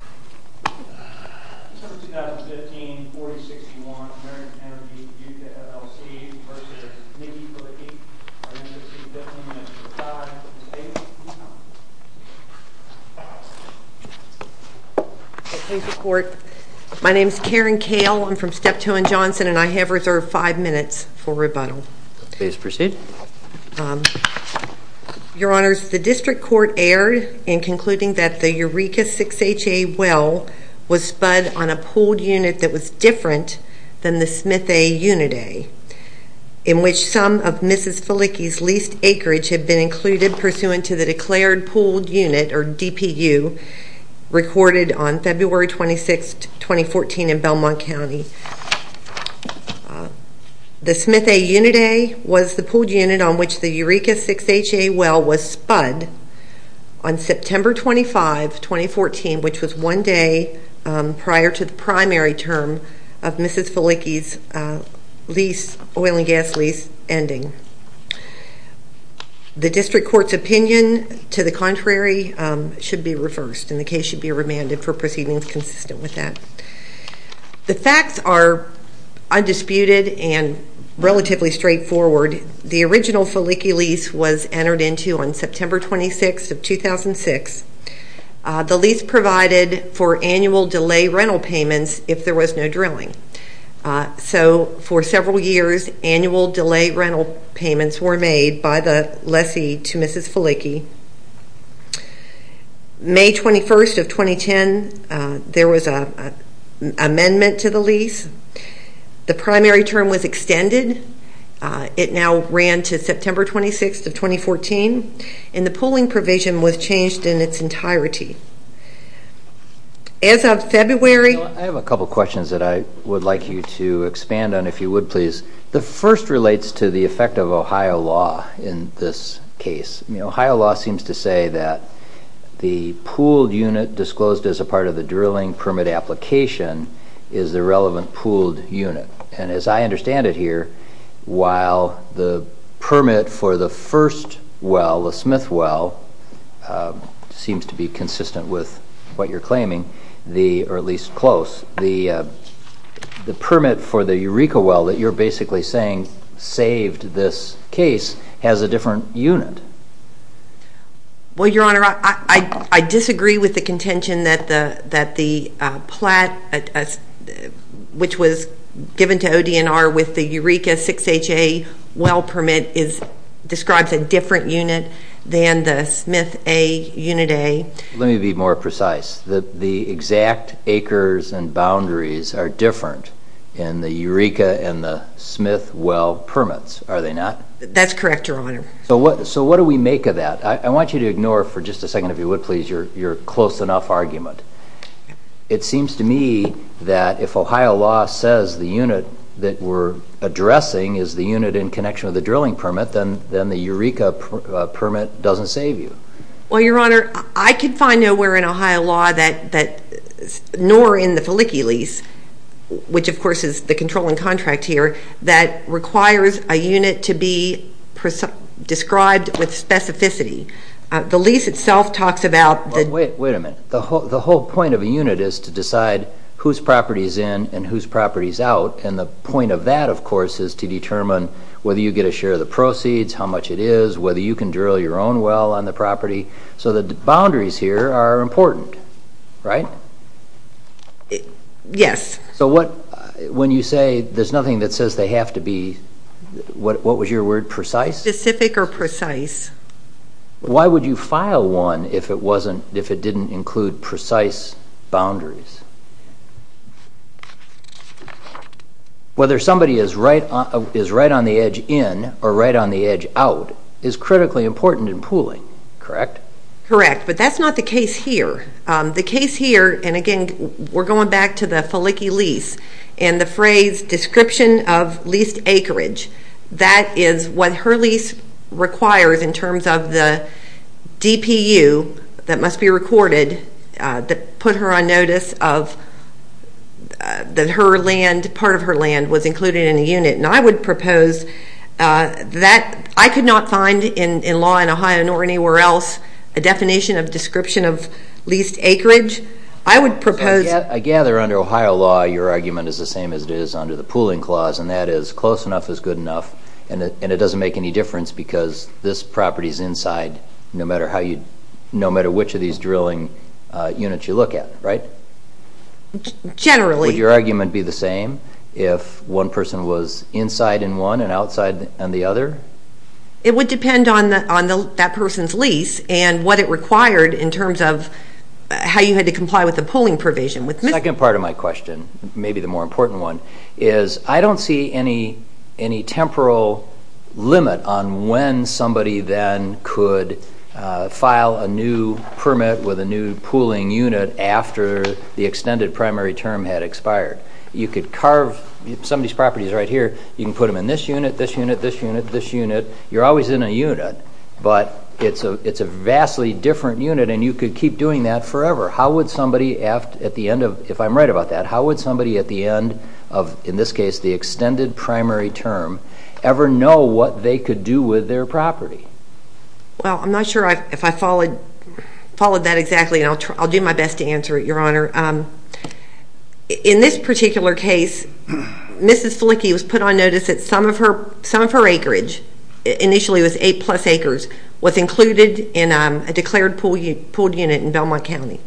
v Nikki Filicky. I'm going to give you 15 minutes to reply to the statement. Thank you, Court. My name is Karen Kale. I'm from Steptoe & Johnson and I have reserved five minutes for rebuttal. Please proceed. Your Honors, the District Court erred in concluding that the Eureka 6HA well was spud on a pooled unit that was different than the Smith A Unit A, in which some of Mrs. Filicky's leased acreage had been included pursuant to the declared pooled unit, or DPU, recorded on February 26, 2014 in Belmont County. The Smith 25, 2014, which was one day prior to the primary term of Mrs. Filicky's oil and gas lease ending. The District Court's opinion to the contrary should be reversed and the case should be remanded for proceedings consistent with that. The facts are undisputed and relatively straightforward. The original Filicky lease was entered into on September 26, 2006. The lease provided for annual delay rental payments if there was no drilling. So for several years, annual delay rental payments were made by the lessee to Mrs. Filicky. May 21, 2010, there was an additional lease. The primary term was extended. It now ran to September 26, 2014, and the pooling provision was changed in its entirety. As of February... I have a couple of questions that I would like you to expand on, if you would, please. The first relates to the effect of Ohio law in this case. Ohio law seems to say that the relevant pooled unit, and as I understand it here, while the permit for the first well, the Smith well, seems to be consistent with what you're claiming, or at least close, the permit for the Eureka well that you're basically saying saved this case has a different unit. Well, Your Honor, I disagree with the contention that the plat, which was given to ODNR with the Eureka 6HA well permit, describes a different unit than the Smith A unit A. Let me be more precise. The exact acres and boundaries are different in the Eureka and the Smith well permits, are they not? That's correct, Your Honor. So what do we make of that? I want you to ignore, for just a second, if you would, please, your close enough argument. It seems to me that if Ohio law says the unit that we're addressing is the unit in connection with the drilling permit, then the Eureka permit doesn't save you. Well, Your Honor, I could find nowhere in Ohio law that, nor in the Felicki lease, which of course is the controlling contract here, that requires a unit to be described with specificity. The lease itself talks about the... Wait a minute. The whole point of a unit is to decide whose property is in and whose property is out, and the point of that, of course, is to determine whether you get a share of the proceeds, how much it is, whether you can drill your own well on the property. So the boundaries here are important, right? Yes. So when you say there's nothing that says they have to be, what was your word, precise? Specific or precise. Why would you file one if it didn't include precise boundaries? Whether somebody is right on the edge in or right on the edge out is critically important in pooling, correct? Correct, but that's not the case here. The case here, and again, we're going back to the Felicki lease, and the phrase description of leased acreage, that is what her lease requires in terms of the DPU that must be recorded that put her on notice of that her land, part of her land, was included in a unit. And I would propose that I could not find in law in Ohio nor anywhere else a definition of description of leased acreage. I would propose... I gather under Ohio law your argument is the same as it is under the pooling clause, and that is close enough is good enough, and it doesn't make any difference because this property is inside no matter which of these drilling units you look at, right? Generally. Would your argument be the same if one person was inside in one and outside in the other? It would depend on that person's lease and what it required in terms of how you had to comply with the pooling provision. The second part of my question, maybe the more important one, is I don't see any temporal limit on when somebody then could file a new permit with a new pooling unit after the extended primary term had expired. You could carve somebody's properties right here, you can put them in this unit, this unit, this unit, this unit, you're always in a unit, but it's a vastly different unit and you could keep doing that forever. How would somebody at the end of, if I'm right about that, how would somebody at the end of, in this case, the extended primary term, ever know what they could do with their property? Well, I'm not sure if I followed that exactly and I'll do my best to answer it, Your Honor. In this particular case, Mrs. Flicky was put on notice that some of her acreage, initially it was 8 plus acres, was included in a declared pooled unit in Belmont County.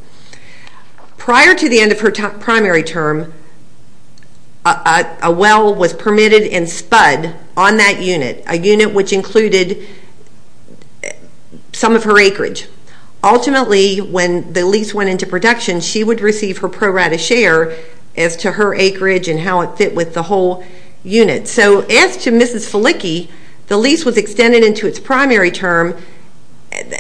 Prior to the end of her primary term, a well was permitted and spud on that unit, a unit which included some of her acreage. Ultimately, when the lease went into production, she would receive her pro rata share as to her acreage and how it fit with the whole unit. So, as to Mrs. Flicky, the lease was extended into its primary term.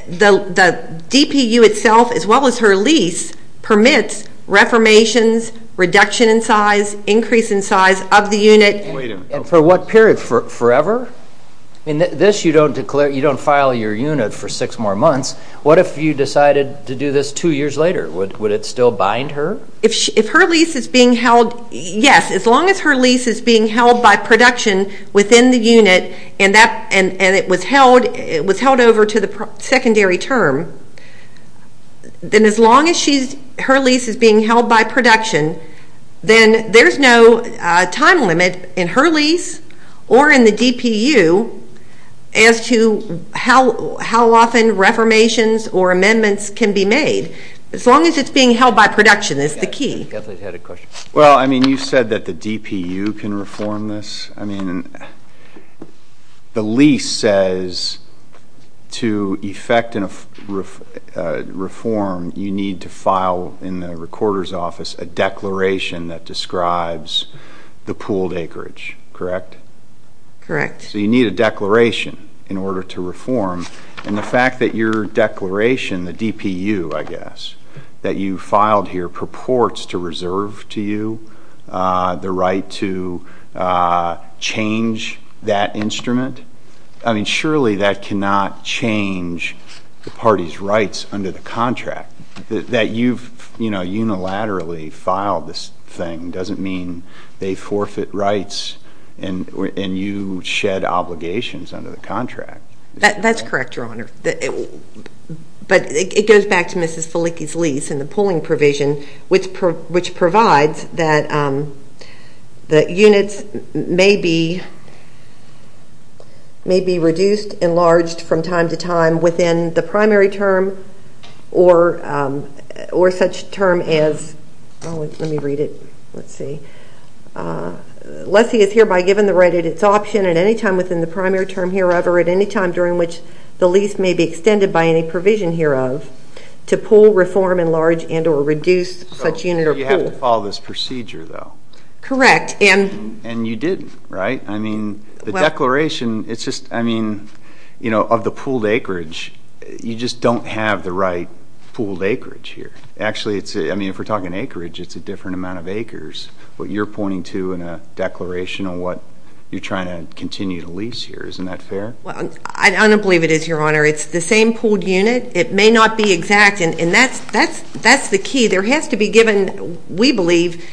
The DPU itself, as well as her lease, permits reformations, reduction in size, increase in size of the unit. Wait a minute. For what period? Forever? I mean, this you don't declare, you don't file your unit for six more months. What if you decided to do this two years later? Would it still bind her? If her lease is being held, yes, as long as her lease is being held by production within the unit and it was held over to the secondary term, then as long as her lease is being held by production, then there's no time limit in her lease or in the DPU as to how often reformations or amendments can be made. As long as it's being held by production, that's the key. Kathleen's had a question. Well, I mean, you said that the DPU can reform this. I mean, the lease says to effect a reform, you need to file in the recorder's office a declaration that describes the pooled acreage, correct? Correct. So you need a declaration in order to reform. And the fact that your declaration, the DPU, I guess, that you filed here purports to reserve to you the right to change that instrument, I mean, surely that cannot change the party's rights under the contract. That you've unilaterally filed this thing doesn't mean they forfeit rights and you shed obligations under the contract. That's correct, Your Honor. But it goes back to Mrs. Felicki's lease and the pooling provision, which provides that units may be reduced, enlarged from time to time within the primary term or such term as, let me read it, let's see. Unless he is hereby given the right at its option at any time within the primary term hereof or at any time during which the lease may be extended by any provision hereof to pool, reform, enlarge, and or reduce such unit or pool. You have to follow this procedure, though. Correct. And you didn't, right? I mean, the declaration, it's just, I mean, you know, of the pooled acreage, you just don't have the right pooled acreage here. Actually, I mean, if we're talking acreage, it's a different amount of acres. What you're pointing to in a declaration on what you're trying to continue to lease here, isn't that fair? Well, I don't believe it is, Your Honor. It's the same pooled unit. It may not be exact, and that's the key. There has to be given, we believe,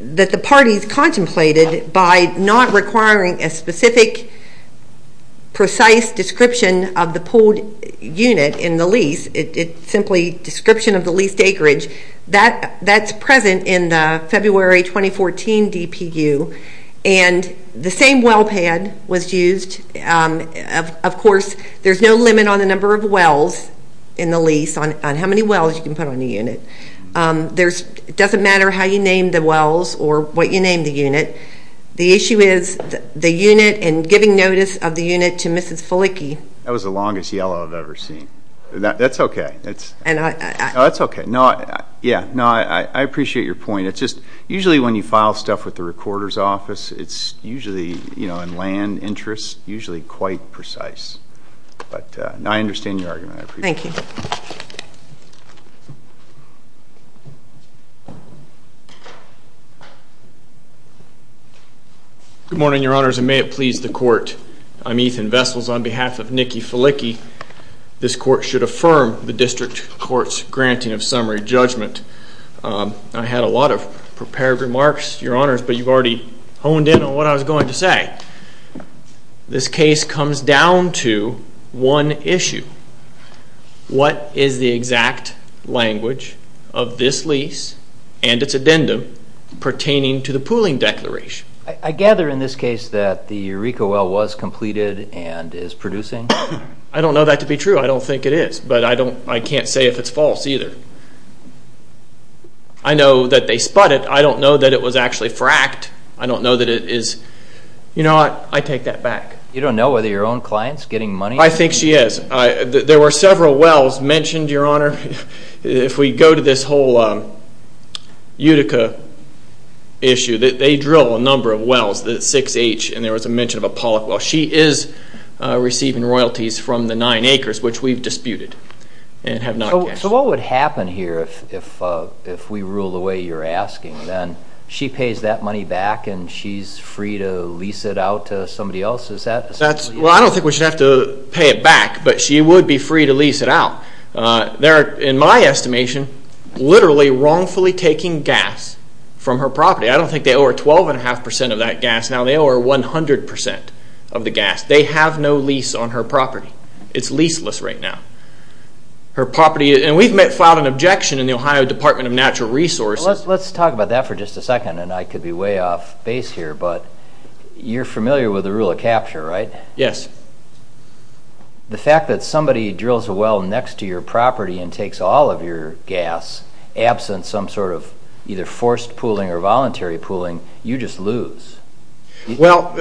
that the party's contemplated by not requiring a specific, precise description of the pooled unit in the lease. It's simply description of the leased acreage. That's present in the February 2014 DPU, and the same well pad was used. Of course, there's no limit on the number of wells in the lease, on how many wells you can put on a unit. It doesn't matter how you name the wells or what you name the unit. The issue is the unit and giving notice of the unit to Mrs. Felicki. That was the longest yellow I've ever seen. That's okay. That's okay. No, I appreciate your point. It's just usually when you file stuff with the recorder's office, it's usually in land interest, usually quite precise. But I understand your argument. Thank you. Good morning, Your Honors, and may it please the Court. I'm Ethan Vessels on behalf of Nikki Felicki. This Court should affirm the District Court's granting of summary judgment. I had a lot of prepared remarks, Your Honors, but you've already honed in on what I was going to say. This case comes down to one issue. What is the exact language of this lease and its addendum pertaining to the pooling declaration? I gather in this case that the Eureka well was completed and is producing? I don't know that to be true. I don't think it is, but I can't say if it's false either. I know that they spot it. I don't know that it was actually fracked. I don't know that it is. You know what? I take that back. You don't know whether your own client's getting money? I think she is. There were several wells mentioned, Your Honor. If we go to this whole Eureka issue, they drill a number of wells, the 6H, and there was a mention of a Pollock well. She is receiving royalties from the nine acres, which we've disputed and have not guessed. So what would happen here if we rule the way you're asking? She pays that money back and she's free to lease it out to somebody else? I don't think we should have to pay it back, but she would be free to lease it out. They're, in my estimation, literally wrongfully taking gas from her property. I don't think they owe her 12.5% of that gas. Now they owe her 100% of the gas. They have no lease on her property. It's leaseless right now. Her property, and we've filed an objection in the Ohio Department of Natural Resources. Let's talk about that for just a second, and I could be way off base here, but you're familiar with the rule of capture, right? Yes. The fact that somebody drills a well next to your property and takes all of your gas, absent some sort of either forced pooling or voluntary pooling, you just lose. Well,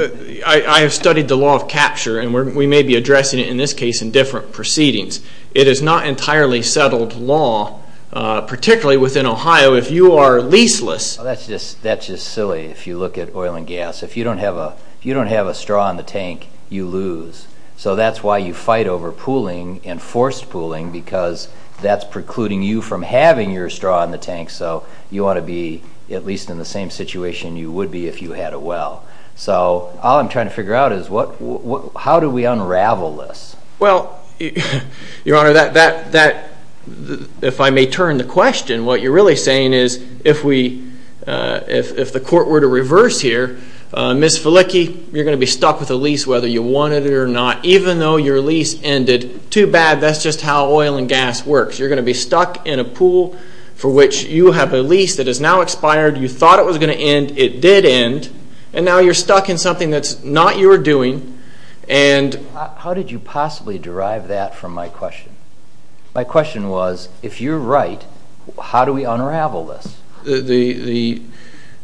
I have studied the law of capture, and we may be addressing it in this case in different proceedings. It is not entirely settled law, particularly within Ohio, if you are leaseless. If you don't have a straw in the tank, you lose. So that's why you fight over pooling and forced pooling because that's precluding you from having your straw in the tank, so you want to be at least in the same situation you would be if you had a well. So all I'm trying to figure out is how do we unravel this? Well, Your Honor, if I may turn the question, and what you're really saying is if the court were to reverse here, Ms. Felicki, you're going to be stuck with a lease whether you want it or not. Even though your lease ended too bad, that's just how oil and gas works. You're going to be stuck in a pool for which you have a lease that is now expired. You thought it was going to end. It did end. And now you're stuck in something that's not your doing. How did you possibly derive that from my question? My question was, if you're right, how do we unravel this?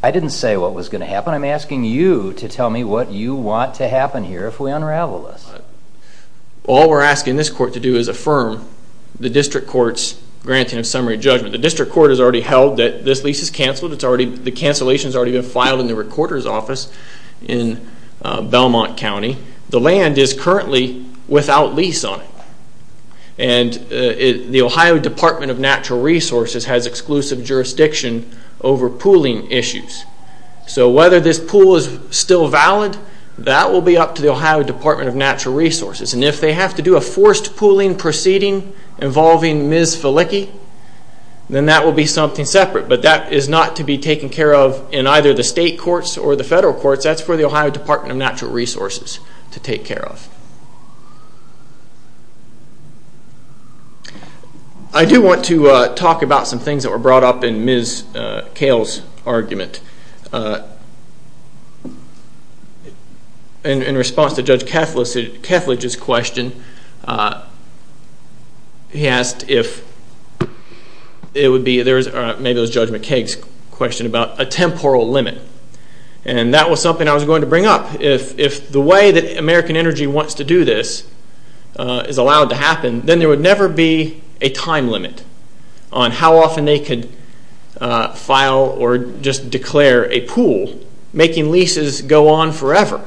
I didn't say what was going to happen. I'm asking you to tell me what you want to happen here if we unravel this. All we're asking this court to do is affirm the district court's granting of summary judgment. The district court has already held that this lease is canceled. The cancellation has already been filed in the recorder's office in Belmont County. The land is currently without lease on it. And the Ohio Department of Natural Resources has exclusive jurisdiction over pooling issues. So whether this pool is still valid, that will be up to the Ohio Department of Natural Resources. And if they have to do a forced pooling proceeding involving Ms. Felicki, then that will be something separate. But that is not to be taken care of in either the state courts or the federal courts. That's for the Ohio Department of Natural Resources to take care of. I do want to talk about some things that were brought up in Ms. Cale's argument. In response to Judge Kethledge's question, he asked if it would be maybe it was Judge McCaig's question about a temporal limit. And that was something I was going to bring up. If the way that American Energy wants to do this is allowed to happen, then there would never be a time limit on how often they could file or just declare a pool, making leases go on forever.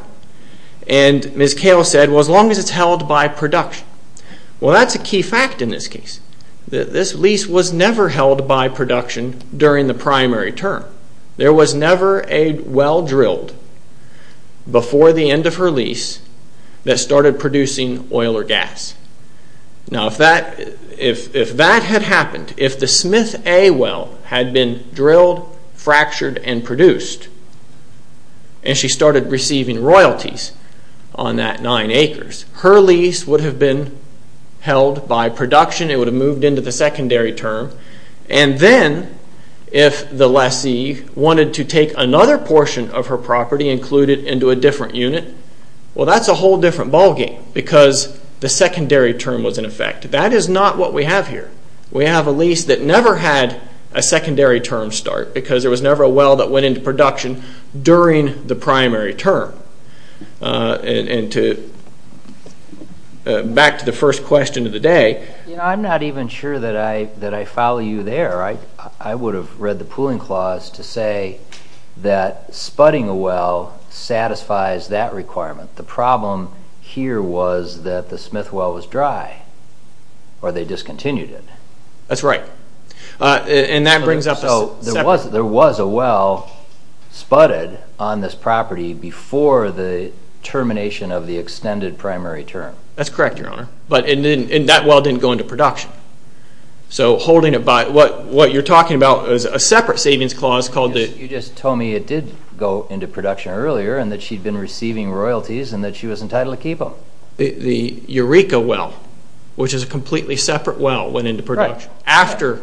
And Ms. Cale said, well, as long as it's held by production. Well, that's a key fact in this case. This lease was never held by production during the primary term. There was never a well drilled before the end of her lease that started producing oil or gas. Now, if that had happened, if the Smith A well had been drilled, fractured, and produced, and she started receiving royalties on that nine acres, her lease would have been held by production. It would have moved into the secondary term. And then if the lessee wanted to take another portion of her property and include it into a different unit, well, that's a whole different ballgame because the secondary term was in effect. That is not what we have here. We have a lease that never had a secondary term start because there was never a well that went into production during the primary term. And back to the first question of the day. You know, I'm not even sure that I follow you there. I would have read the pooling clause to say that sputting a well satisfies that requirement. The problem here was that the Smith well was dry or they discontinued it. That's right. And that brings up the second question. So there was a well sputted on this property before the termination of the extended primary term. That's correct, Your Honor. And that well didn't go into production. So what you're talking about is a separate savings clause called the— You just told me it did go into production earlier and that she'd been receiving royalties and that she was entitled to keep them. The Eureka well, which is a completely separate well, went into production after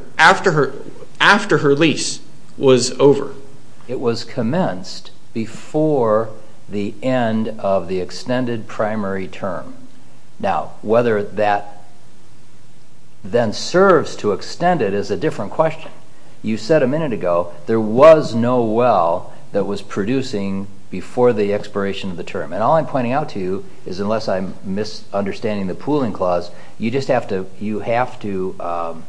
her lease was over. It was commenced before the end of the extended primary term. Now, whether that then serves to extend it is a different question. You said a minute ago there was no well that was producing before the expiration of the term. And all I'm pointing out to you is unless I'm misunderstanding the pooling clause, you have to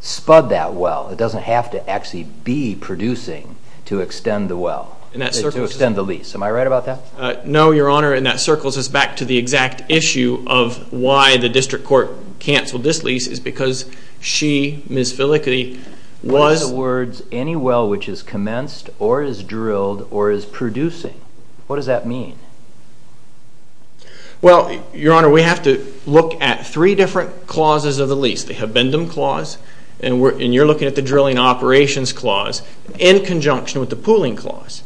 spud that well. It doesn't have to actually be producing to extend the lease. Am I right about that? No, Your Honor. And that circles us back to the exact issue of why the district court canceled this lease is because she, Ms. Filikaty, was— What are the words, any well which is commenced or is drilled or is producing? What does that mean? Well, Your Honor, we have to look at three different clauses of the lease. The abendum clause, and you're looking at the drilling operations clause, in conjunction with the pooling clause.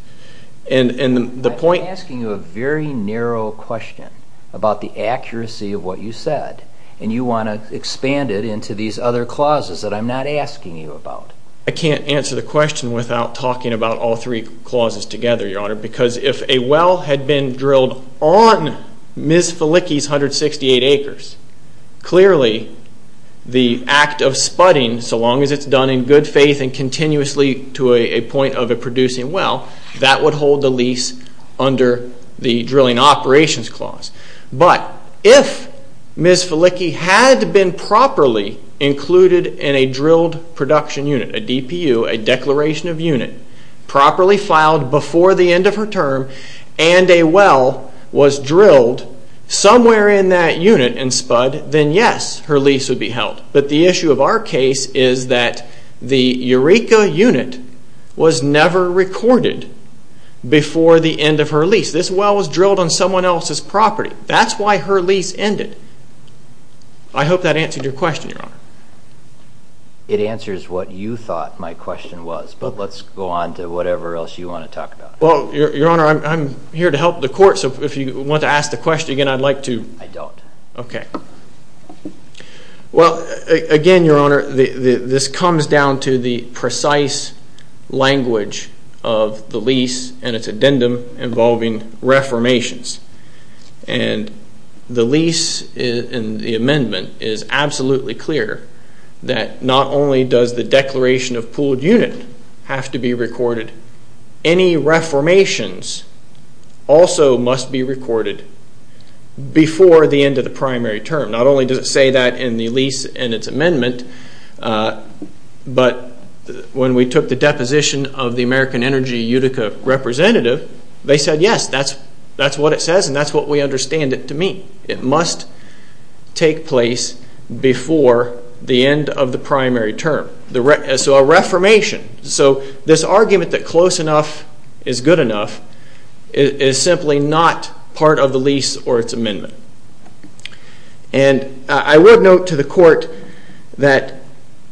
I'm asking you a very narrow question about the accuracy of what you said, and you want to expand it into these other clauses that I'm not asking you about. I can't answer the question without talking about all three clauses together, Your Honor, because if a well had been drilled on Ms. Filikaty's 168 acres, clearly the act of spudding, so long as it's done in good faith and continuously to a point of a producing well, that would hold the lease under the drilling operations clause. But if Ms. Filikaty had been properly included in a drilled production unit, a DPU, a declaration of unit, properly filed before the end of her term, and a well was drilled somewhere in that unit and spud, then yes, her lease would be held. But the issue of our case is that the Eureka unit was never recorded before the end of her lease. This well was drilled on someone else's property. That's why her lease ended. I hope that answered your question, Your Honor. It answers what you thought my question was, but let's go on to whatever else you want to talk about. Well, Your Honor, I'm here to help the court, so if you want to ask the question again, I'd like to. I don't. Okay. Well, again, Your Honor, this comes down to the precise language of the lease and its addendum involving reformations. And the lease in the amendment is absolutely clear that not only does the declaration of pooled unit have to be recorded, any reformations also must be recorded before the end of the primary term. Not only does it say that in the lease and its amendment, but when we took the deposition of the American Energy Eureka representative, they said, yes, that's what it says and that's what we understand it to mean. It must take place before the end of the primary term. So a reformation, so this argument that close enough is good enough is simply not part of the lease or its amendment. And I would note to the court that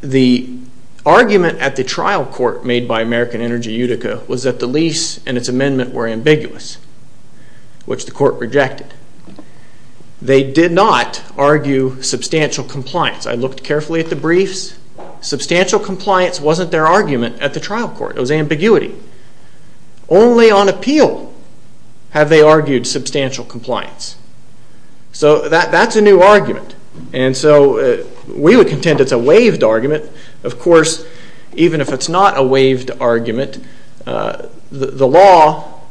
the argument at the trial court made by American Energy Eureka was that the lease and its amendment were ambiguous, which the court rejected. They did not argue substantial compliance. I looked carefully at the briefs. Substantial compliance wasn't their argument at the trial court. It was ambiguity. Only on appeal have they argued substantial compliance. So that's a new argument. And so we would contend it's a waived argument. Of course, even if it's not a waived argument, the law,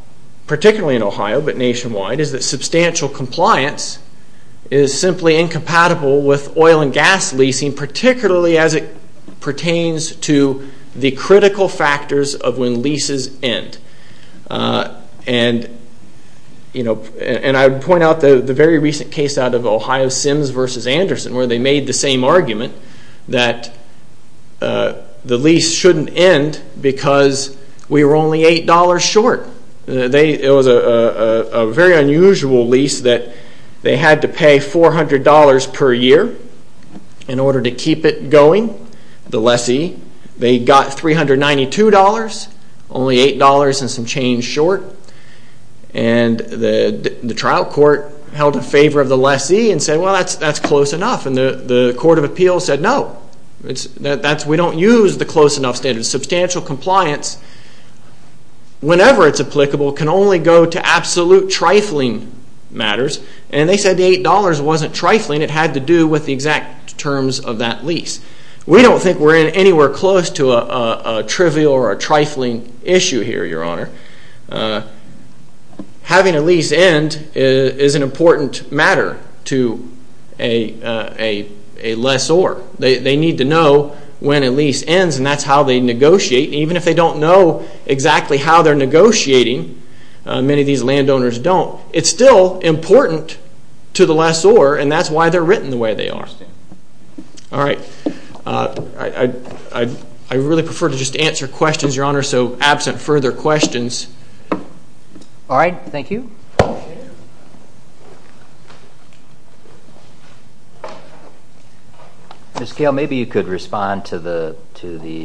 particularly in Ohio but nationwide, is that substantial compliance is simply incompatible with oil and gas leasing, particularly as it pertains to the critical factors of when leases end. And I would point out the very recent case out of Ohio Sims v. Anderson where they made the same argument that the lease shouldn't end because we were only $8 short. It was a very unusual lease that they had to pay $400 per year in order to keep it going, the lessee. They got $392, only $8 and some change short. And the trial court held in favor of the lessee and said, well, that's close enough. And the court of appeals said, no, we don't use the close enough standard. Substantial compliance, whenever it's applicable, can only go to absolute trifling matters. And they said the $8 wasn't trifling. It had to do with the exact terms of that lease. We don't think we're anywhere close to a trivial or a trifling issue here, Your Honor. Having a lease end is an important matter to a lessor. They need to know when a lease ends and that's how they negotiate. Even if they don't know exactly how they're negotiating, many of these landowners don't, it's still important to the lessor and that's why they're written the way they are. All right, I really prefer to just answer questions, Your Honor, so absent further questions. All right, thank you. Ms. Gale, maybe you could respond to the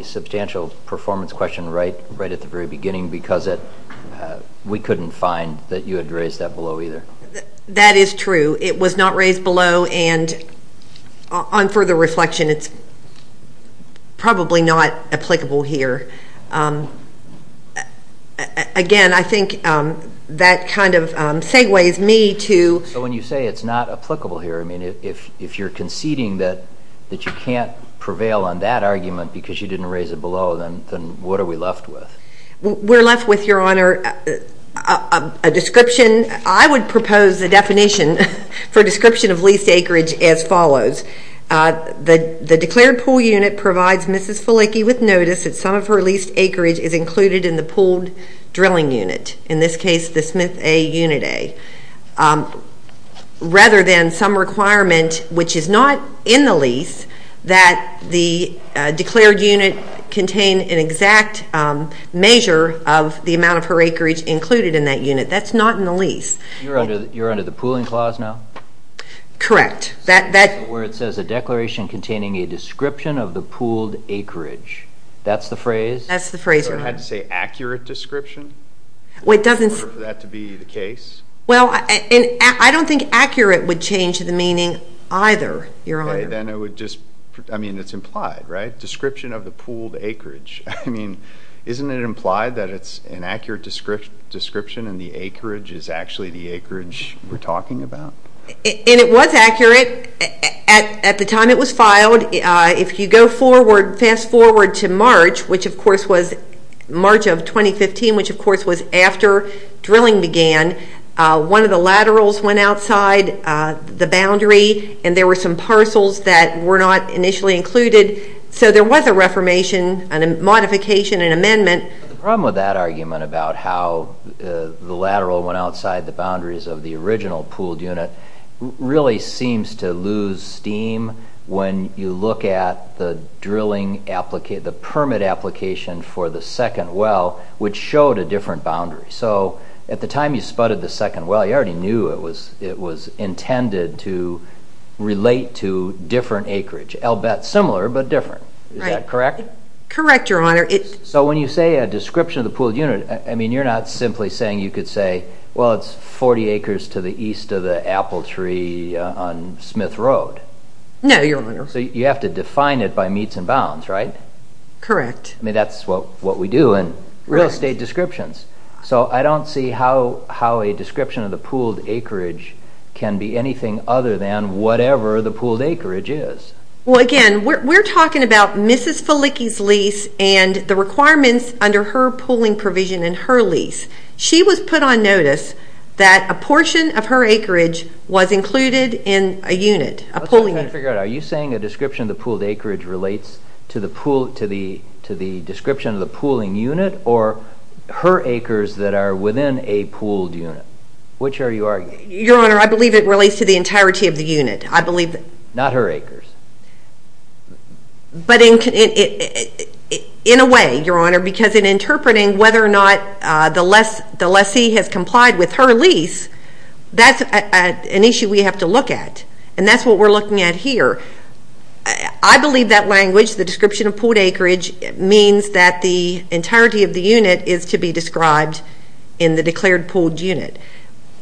substantial performance question right at the very beginning because we couldn't find that you had raised that below either. That is true. It was not raised below and on further reflection, it's probably not applicable here. Again, I think that kind of segues me to... So when you say it's not applicable here, I mean if you're conceding that you can't prevail on that argument because you didn't raise it below, then what are we left with? We're left with, Your Honor, a description. I would propose the definition for description of leased acreage as follows. The declared pool unit provides Mrs. Felicki with notice that some of her leased acreage is included in the pooled drilling unit, in this case the Smith A Unit A, rather than some requirement which is not in the lease that the declared unit contain an exact measure of the amount of her acreage included in that unit. That's not in the lease. You're under the pooling clause now? Correct. Where it says a declaration containing a description of the pooled acreage. That's the phrase? That's the phrase, Your Honor. So I had to say accurate description? Well, it doesn't... For that to be the case? Well, I don't think accurate would change the meaning either, Your Honor. Okay. Then it would just... I mean, it's implied, right? Description of the pooled acreage. I mean, isn't it implied that it's an accurate description and the acreage is actually the acreage we're talking about? And it was accurate. At the time it was filed, if you go forward, fast forward to March, which of course was March of 2015, which of course was after drilling began. One of the laterals went outside the boundary and there were some parcels that were not initially included. So there was a reformation, a modification, an amendment. The problem with that argument about how the lateral went outside the boundaries of the original pooled unit really seems to lose steam when you look at the drilling application, the permit application for the second well, which showed a different boundary. So at the time you spotted the second well, you already knew it was intended to relate to different acreage. I'll bet similar but different. Is that correct? Correct, Your Honor. So when you say a description of the pooled unit, I mean, you're not simply saying you could say, well, it's 40 acres to the east of the apple tree on Smith Road. No, Your Honor. So you have to define it by meets and bounds, right? Correct. I mean, that's what we do in real estate descriptions. So I don't see how a description of the pooled acreage can be anything other than whatever the pooled acreage is. Well, again, we're talking about Mrs. Felicki's lease and the requirements under her pooling provision in her lease. She was put on notice that a portion of her acreage was included in a unit, a pooling unit. I'm trying to figure out, are you saying a description of the pooled acreage relates to the description of the pooling unit or her acres that are within a pooled unit? Which are you arguing? Your Honor, I believe it relates to the entirety of the unit. Not her acres. But in a way, Your Honor, because in interpreting whether or not the lessee has complied with her lease, that's an issue we have to look at, and that's what we're looking at here. I believe that language, the description of pooled acreage, means that the entirety of the unit is to be described in the declared pooled unit.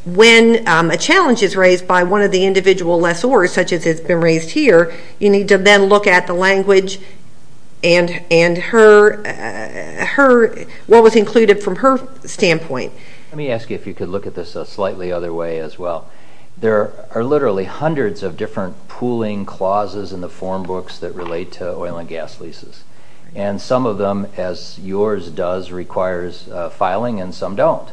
When a challenge is raised by one of the individual lessors, such as has been raised here, you need to then look at the language and what was included from her standpoint. Let me ask you if you could look at this a slightly other way as well. There are literally hundreds of different pooling clauses in the form books that relate to oil and gas leases, and some of them, as yours does, requires filing and some don't.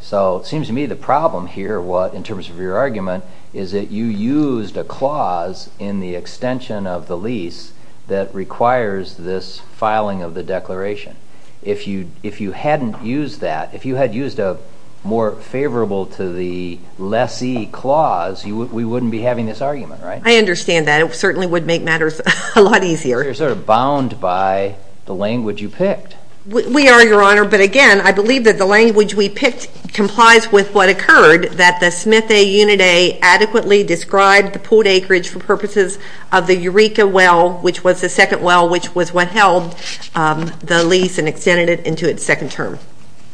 So it seems to me the problem here, in terms of your argument, is that you used a clause in the extension of the lease that requires this filing of the declaration. If you hadn't used that, if you had used a more favorable to the lessee clause, we wouldn't be having this argument, right? I understand that. It certainly would make matters a lot easier. You're sort of bound by the language you picked. We are, Your Honor, but again, I believe that the language we picked complies with what occurred, that the Smith A. Unida adequately described the pooled acreage for purposes of the Eureka well, which was the second well, which was what held the lease and extended it into its second term.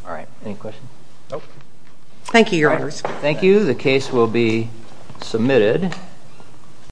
All right. Any questions? No. Thank you, Your Honors. Thank you. The case will be submitted.